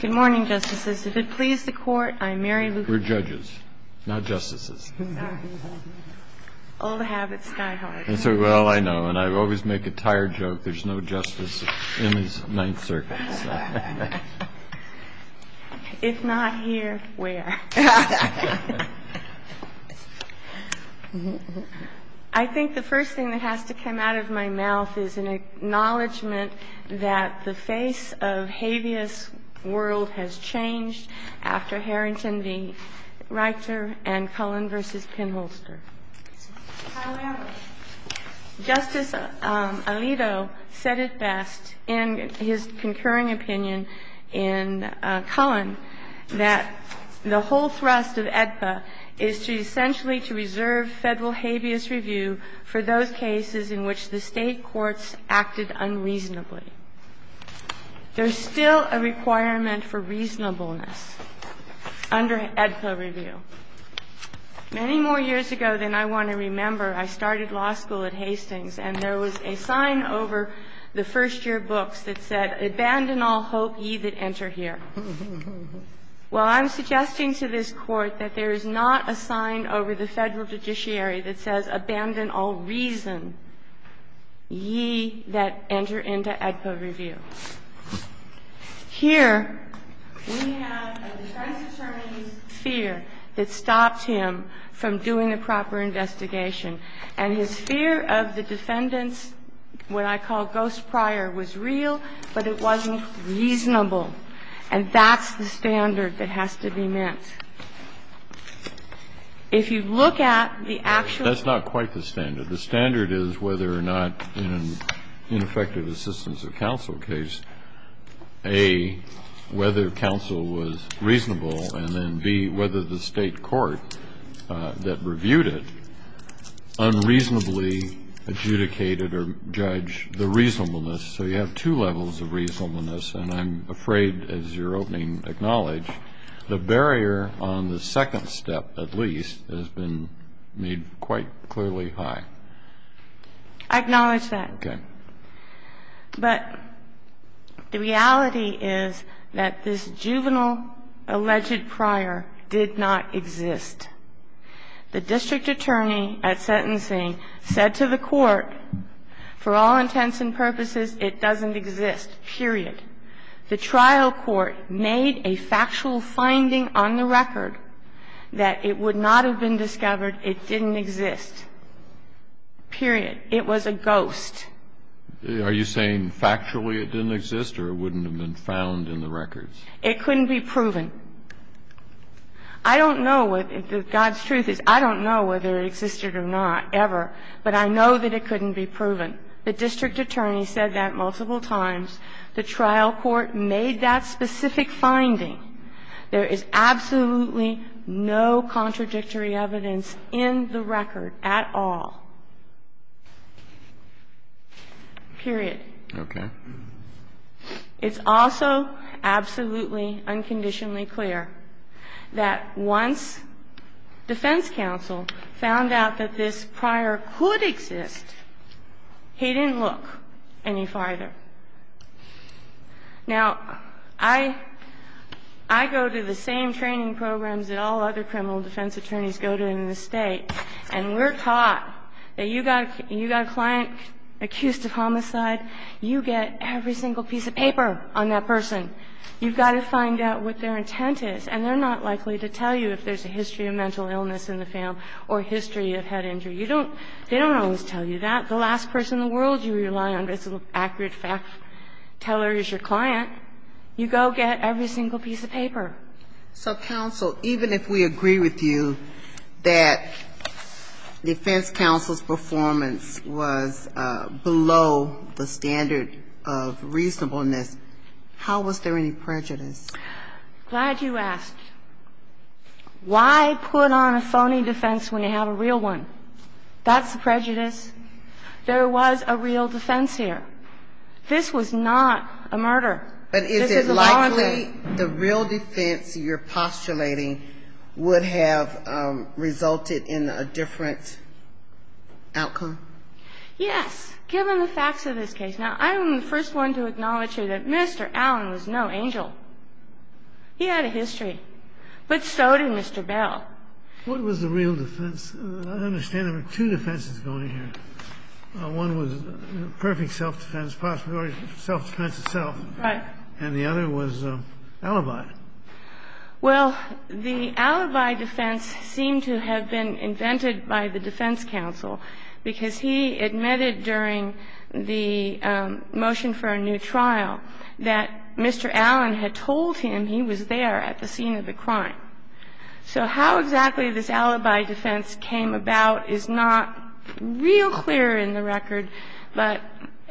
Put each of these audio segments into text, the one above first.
Good morning, Justices. If it pleases the Court, I'm Mary Lou. We're judges, not justices. Old habits die hard. Well, I know, and I always make a tired joke, there's no justice in this Ninth Circuit. If not here, where? I think the first thing that has to come out of my mouth is an acknowledgement that the face of habeas world has changed after Harrington v. Reichter and Cullen v. Pinholster. Justice Alito said it best in his concurring opinion in Cullen that the whole thrust of AEDPA is to essentially to reserve Federal habeas review for those cases in which the State courts acted unreasonably. There's still a requirement for reasonableness under AEDPA review. Many more years ago than I want to remember, I started law school at Hastings, and there was a sign over the first-year books that said, Abandon all hope, ye that enter here. Well, I'm suggesting to this Court that there is not a sign over the Federal judiciary that says, Abandon all reason, ye that enter into AEDPA review. Here we have a defense attorney's fear that stops him from doing a proper investigation. And his fear of the defendant's what I call ghost prior was real, but it wasn't reasonable. And that's the standard that has to be met. If you look at the actual ---- That's not quite the standard. The standard is whether or not in an ineffective assistance of counsel case, A, whether counsel was reasonable, and then, B, whether the State court that reviewed it unreasonably adjudicated or judged the reasonableness. So you have two levels of reasonableness, and I'm afraid, as your opening acknowledged, the barrier on the second step, at least, has been made quite clearly high. I acknowledge that. Okay. But the reality is that this juvenile alleged prior did not exist. The district attorney at sentencing said to the Court, for all intents and purposes, it doesn't exist, period. The trial court made a factual finding on the record that it would not have been discovered. It didn't exist, period. It was a ghost. Are you saying factually it didn't exist or it wouldn't have been found in the records? It couldn't be proven. I don't know what the God's truth is. I don't know whether it existed or not, ever. But I know that it couldn't be proven. The district attorney said that multiple times. The trial court made that specific finding. There is absolutely no contradictory evidence in the record at all, period. Okay. It's also absolutely, unconditionally clear that once defense counsel found out that this prior could exist, he didn't look any farther. Now, I go to the same training programs that all other criminal defense attorneys go to in the State, and we're taught that you got a client accused of homicide, you get every single piece of paper on that person. You've got to find out what their intent is. And they're not likely to tell you if there's a history of mental illness in the family or history of head injury. You don't – they don't always tell you that. The last person in the world you rely on as an accurate fact teller is your client. You go get every single piece of paper. So, counsel, even if we agree with you that defense counsel's performance was below the standard of reasonableness, how was there any prejudice? Glad you asked. Why put on a phony defense when you have a real one? That's the prejudice. There was a real defense here. This was not a murder. This is a voluntary. But is it likely the real defense you're postulating would have resulted in a different outcome? Yes, given the facts of this case. Now, I'm the first one to acknowledge here that Mr. Allen was no angel. He had a history. But so did Mr. Bell. What was the real defense? I understand there were two defenses going here. One was perfect self-defense, self-defense itself. Right. And the other was alibi. Well, the alibi defense seemed to have been invented by the defense counsel because he admitted during the motion for a new trial that Mr. Allen had told him he was there at the scene of the crime. So how exactly this alibi defense came about is not real clear in the record, but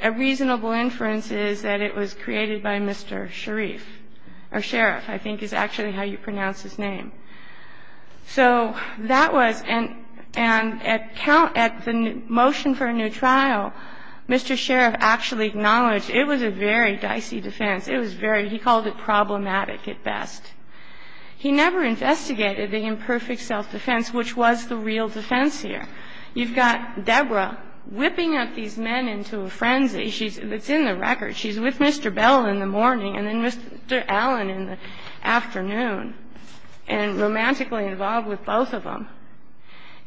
a reasonable inference is that it was created by Mr. Sharif, or Sheriff, I think is actually how you pronounce his name. So that was and at the motion for a new trial, Mr. Sharif actually acknowledged it was a very dicey defense. It was very, he called it problematic at best. He never investigated the imperfect self-defense, which was the real defense here. You've got Deborah whipping up these men into a frenzy. It's in the record. She's with Mr. Bell in the morning and then Mr. Allen in the afternoon. And they're romantically involved with both of them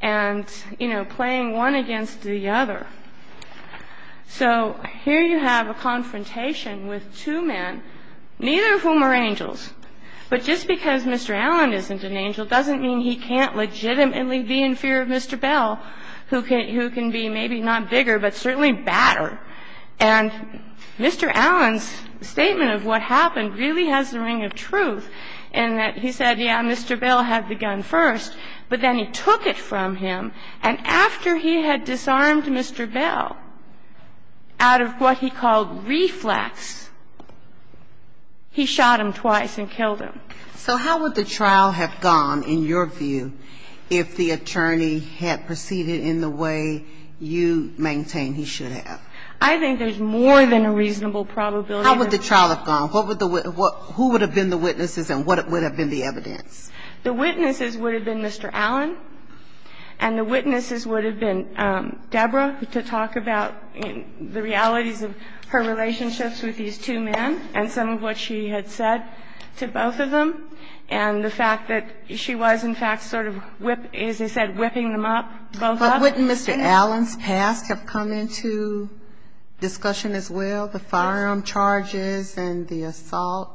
and, you know, playing one against the other. So here you have a confrontation with two men, neither of whom are angels. But just because Mr. Allen isn't an angel doesn't mean he can't legitimately be in fear of Mr. Bell, who can be maybe not bigger, but certainly badder. And Mr. Allen's statement of what happened really has the ring of truth in that he said, yeah, Mr. Bell had the gun first, but then he took it from him. And after he had disarmed Mr. Bell out of what he called reflex, he shot him twice and killed him. So how would the trial have gone, in your view, if the attorney had proceeded in the way you maintain he should have? I think there's more than a reasonable probability. How would the trial have gone? Who would have been the witnesses and what would have been the evidence? The witnesses would have been Mr. Allen and the witnesses would have been Deborah to talk about the realities of her relationships with these two men and some of what she had said to both of them and the fact that she was, in fact, sort of, as I said, whipping them up, both of them. But wouldn't Mr. Allen's past have come into discussion as well, the firearm charges and the assault?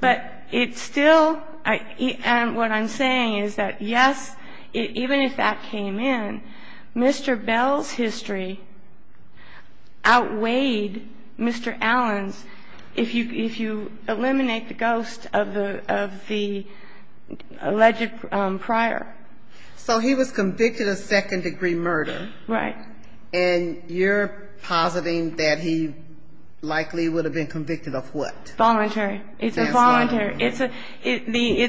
But it's still, and what I'm saying is that, yes, even if that came in, Mr. Bell's history outweighed Mr. Allen's if you eliminate the ghost of the alleged prior. So he was convicted of second-degree murder. Right. And you're positing that he likely would have been convicted of what? Voluntary. It's a voluntary. It's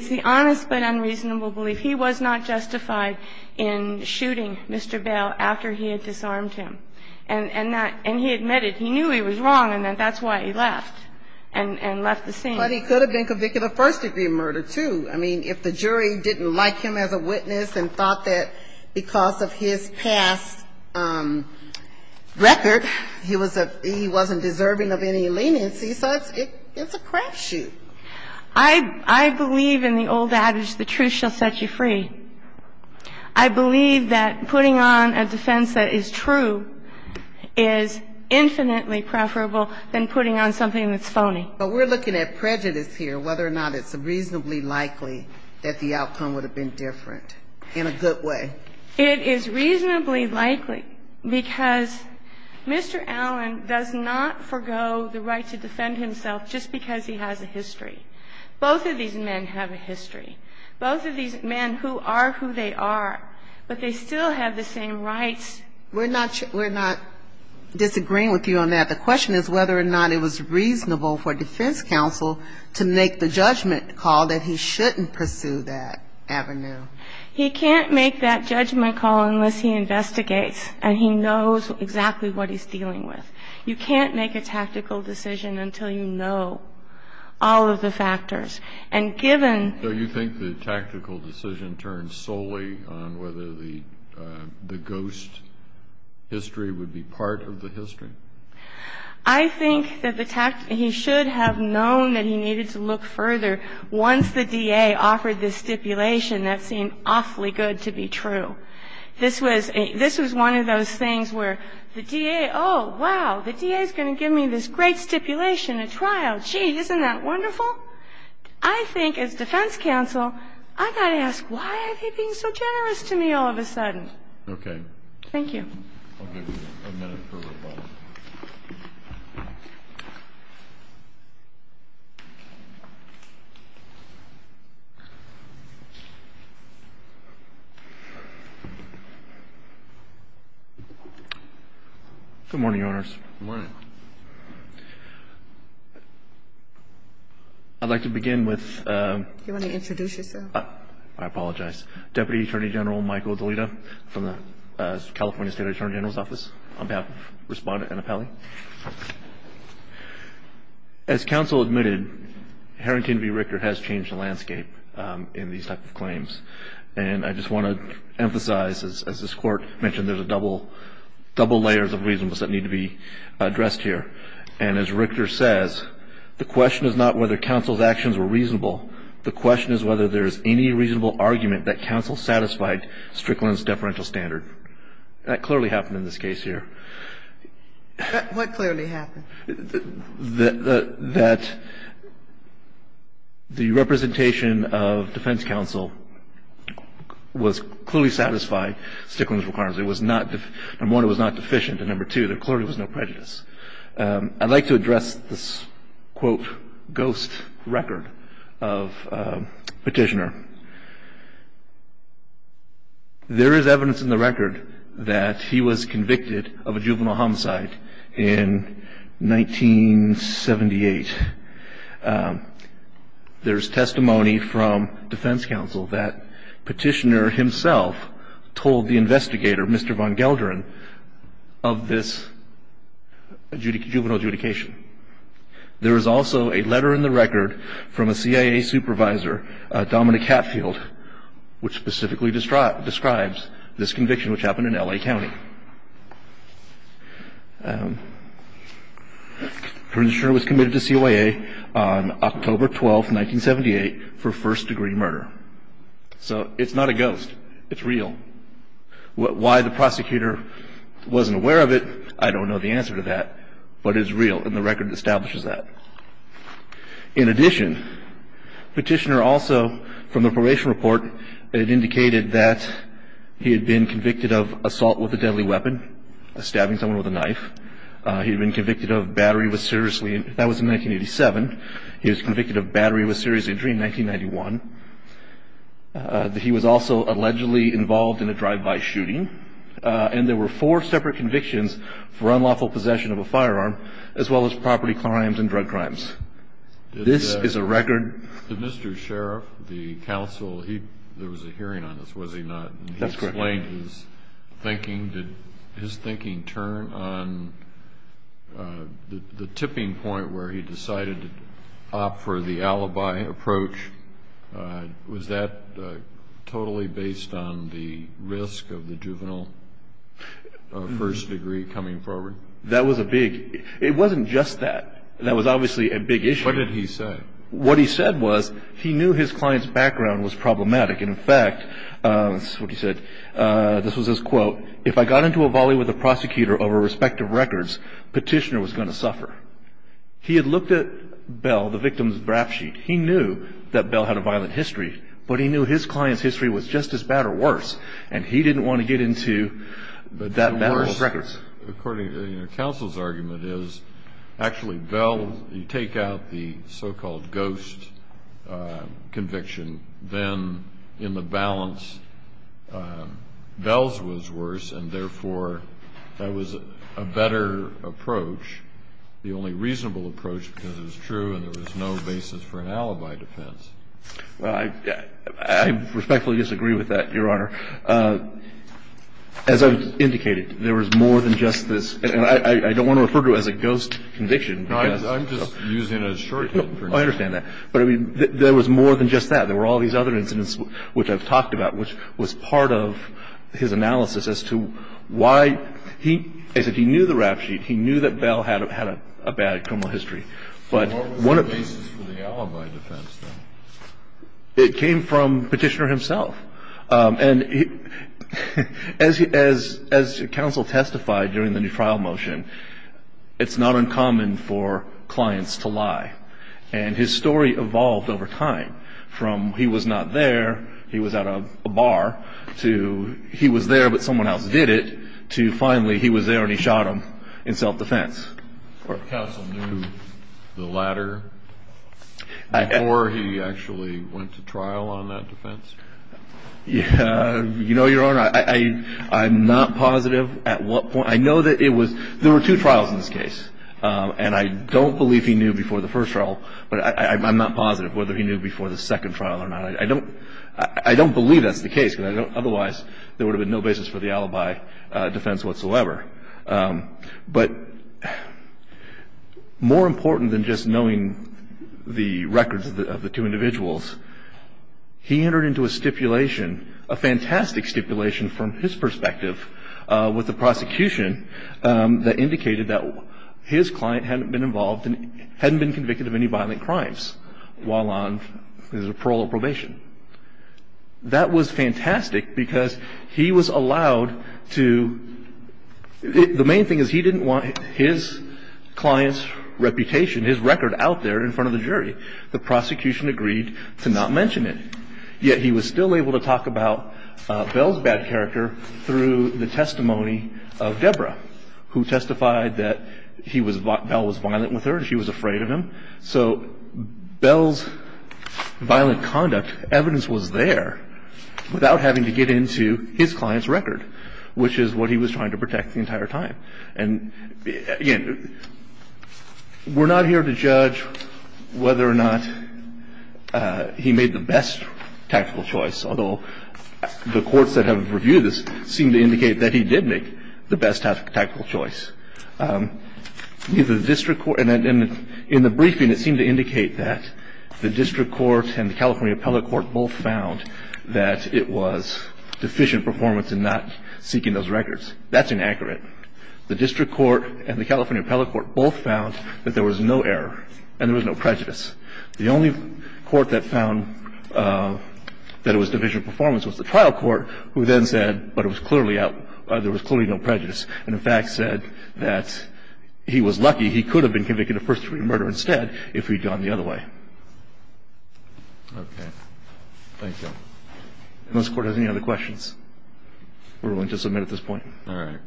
the honest but unreasonable belief. He was not justified in shooting Mr. Bell after he had disarmed him. And he admitted he knew he was wrong and that that's why he left and left the scene. But he could have been convicted of first-degree murder, too. I mean, if the jury didn't like him as a witness and thought that because of his past record he was a he wasn't deserving of any leniency, so it's a crap shoot. I believe in the old adage, the truth shall set you free. I believe that putting on a defense that is true is infinitely preferable than putting on something that's phony. But we're looking at prejudice here, whether or not it's reasonably likely that the outcome would have been different in a good way. It is reasonably likely because Mr. Allen does not forego the right to defend himself just because he has a history. Both of these men have a history. Both of these men who are who they are, but they still have the same rights. We're not disagreeing with you on that. The question is whether or not it was reasonable for defense counsel to make the judgment call that he shouldn't pursue that avenue. He can't make that judgment call unless he investigates and he knows exactly what he's dealing with. You can't make a tactical decision until you know all of the factors. And given the... So you think the tactical decision turns solely on whether the ghost history would be part of the history? I think that he should have known that he needed to look further once the DA offered this stipulation that seemed awfully good to be true. This was one of those things where the DA, oh, wow, the DA is going to give me this great stipulation at trial. Gee, isn't that wonderful? I think as defense counsel, I've got to ask, why are they being so generous to me all of a sudden? Okay. Thank you. I'll give you a minute for a follow-up. Good morning, Your Honors. Good morning. I'd like to begin with... Do you want to introduce yourself? I apologize. Deputy Attorney General Michael DeLitta from the California State Attorney General's Office on behalf of Respondent Annapelle. As counsel admitted, Harrington v. Richter has changed the landscape in these type of claims. And I just want to emphasize, as this Court mentioned, there's double layers of reasonableness that need to be addressed here. And as Richter says, the question is not whether counsel's actions were reasonable. The question is whether there is any reasonable argument that counsel satisfied Strickland's deferential standard. That clearly happened in this case here. What clearly happened? That the representation of defense counsel was clearly satisfied Strickland's requirements. It was not deficient. Number one, it was not deficient. And number two, there clearly was no prejudice. I'd like to address this, quote, ghost record of Petitioner. There is evidence in the record that he was convicted of a juvenile homicide in 1978. There's testimony from defense counsel that Petitioner himself told the investigator, Mr. Von Gelderen, of this juvenile adjudication. There is also a letter in the record from a CIA supervisor, Dominic Hatfield, which specifically describes this conviction which happened in L.A. County. Petitioner was committed to CIA on October 12, 1978, for first-degree murder. So it's not a ghost. It's real. Why the prosecutor wasn't aware of it, I don't know the answer to that. But it's real, and the record establishes that. In addition, Petitioner also, from the probation report, it indicated that he had been convicted of assault with a deadly weapon, stabbing someone with a knife. He had been convicted of battery with serious injury. That was in 1987. He was convicted of battery with serious injury in 1991. He was also allegedly involved in a drive-by shooting. And there were four separate convictions for unlawful possession of a firearm, as well as property crimes and drug crimes. This is a record. Did Mr. Sheriff, the counsel, there was a hearing on this, was he not? That's correct. He explained his thinking. Did his thinking turn on the tipping point where he decided to opt for the alibi approach? Was that totally based on the risk of the juvenile first degree coming forward? That was a big – it wasn't just that. That was obviously a big issue. What did he say? What he said was he knew his client's background was problematic. In fact, this is what he said. This was his quote. If I got into a volley with a prosecutor over respective records, Petitioner was going to suffer. He had looked at Bell, the victim's rap sheet. He knew that Bell had a violent history, but he knew his client's history was just as bad or worse, and he didn't want to get into that battle of records. According to counsel's argument is actually Bell, you take out the so-called ghost conviction, then in the balance Bell's was worse, and therefore that was a better approach, the only reasonable approach because it was true and there was no basis for an alibi defense. Well, I respectfully disagree with that, Your Honor. As I've indicated, there was more than just this – and I don't want to refer to it as a ghost conviction because – No, I'm just using it as a shorthand for now. I understand that. But I mean, there was more than just that. There were all these other incidents which I've talked about, which was part of his analysis as to why he – as if he knew the rap sheet, he knew that Bell had a bad criminal history. What was the basis for the alibi defense then? It came from Petitioner himself. And as counsel testified during the new trial motion, it's not uncommon for clients to lie, and his story evolved over time from he was not there, he was at a bar, to he was there but someone else did it, to finally he was there and he shot him in self-defense. Counsel knew the latter before he actually went to trial on that defense? You know, Your Honor, I'm not positive at what point – I know that it was – there were two trials in this case, and I don't believe he knew before the first trial, but I'm not positive whether he knew before the second trial or not. I don't believe that's the case because I don't – that's not a defense whatsoever. But more important than just knowing the records of the two individuals, he entered into a stipulation, a fantastic stipulation from his perspective with the prosecution that indicated that his client hadn't been involved and hadn't been convicted of any violent crimes while on parole or probation. That was fantastic because he was allowed to – the main thing is he didn't want his client's reputation, his record out there in front of the jury. The prosecution agreed to not mention it. Yet he was still able to talk about Bell's bad character through the testimony of Deborah, who testified that Bell was violent with her and she was afraid of him. So Bell's violent conduct, evidence was there without having to get into his client's record, which is what he was trying to protect the entire time. And again, we're not here to judge whether or not he made the best tactical choice, although the courts that have reviewed this seem to indicate that he did make the best tactical choice. In the briefing, it seemed to indicate that the district court and the California appellate court both found that it was deficient performance in not seeking those records. That's inaccurate. The district court and the California appellate court both found that there was no error and there was no prejudice. The only court that found that it was deficient performance was the trial court, who then said, but it was clearly out – there was clearly no prejudice and, in fact, said that he was lucky. He could have been convicted of first-degree murder instead if he'd gone the other way. Okay. Thank you. If this Court has any other questions, we're willing to submit at this point. All right.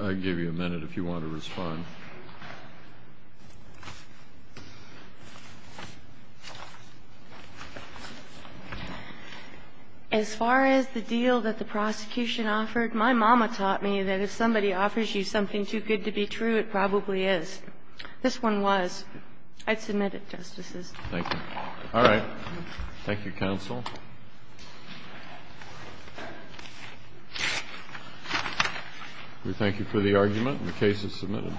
I'll give you a minute if you want to respond. As far as the deal that the prosecution offered, my mama taught me that if somebody offers you something too good to be true, it probably is. This one was. I'd submit it, Justices. Thank you. All right. Thank you, counsel. We thank you for the argument. The case is submitted.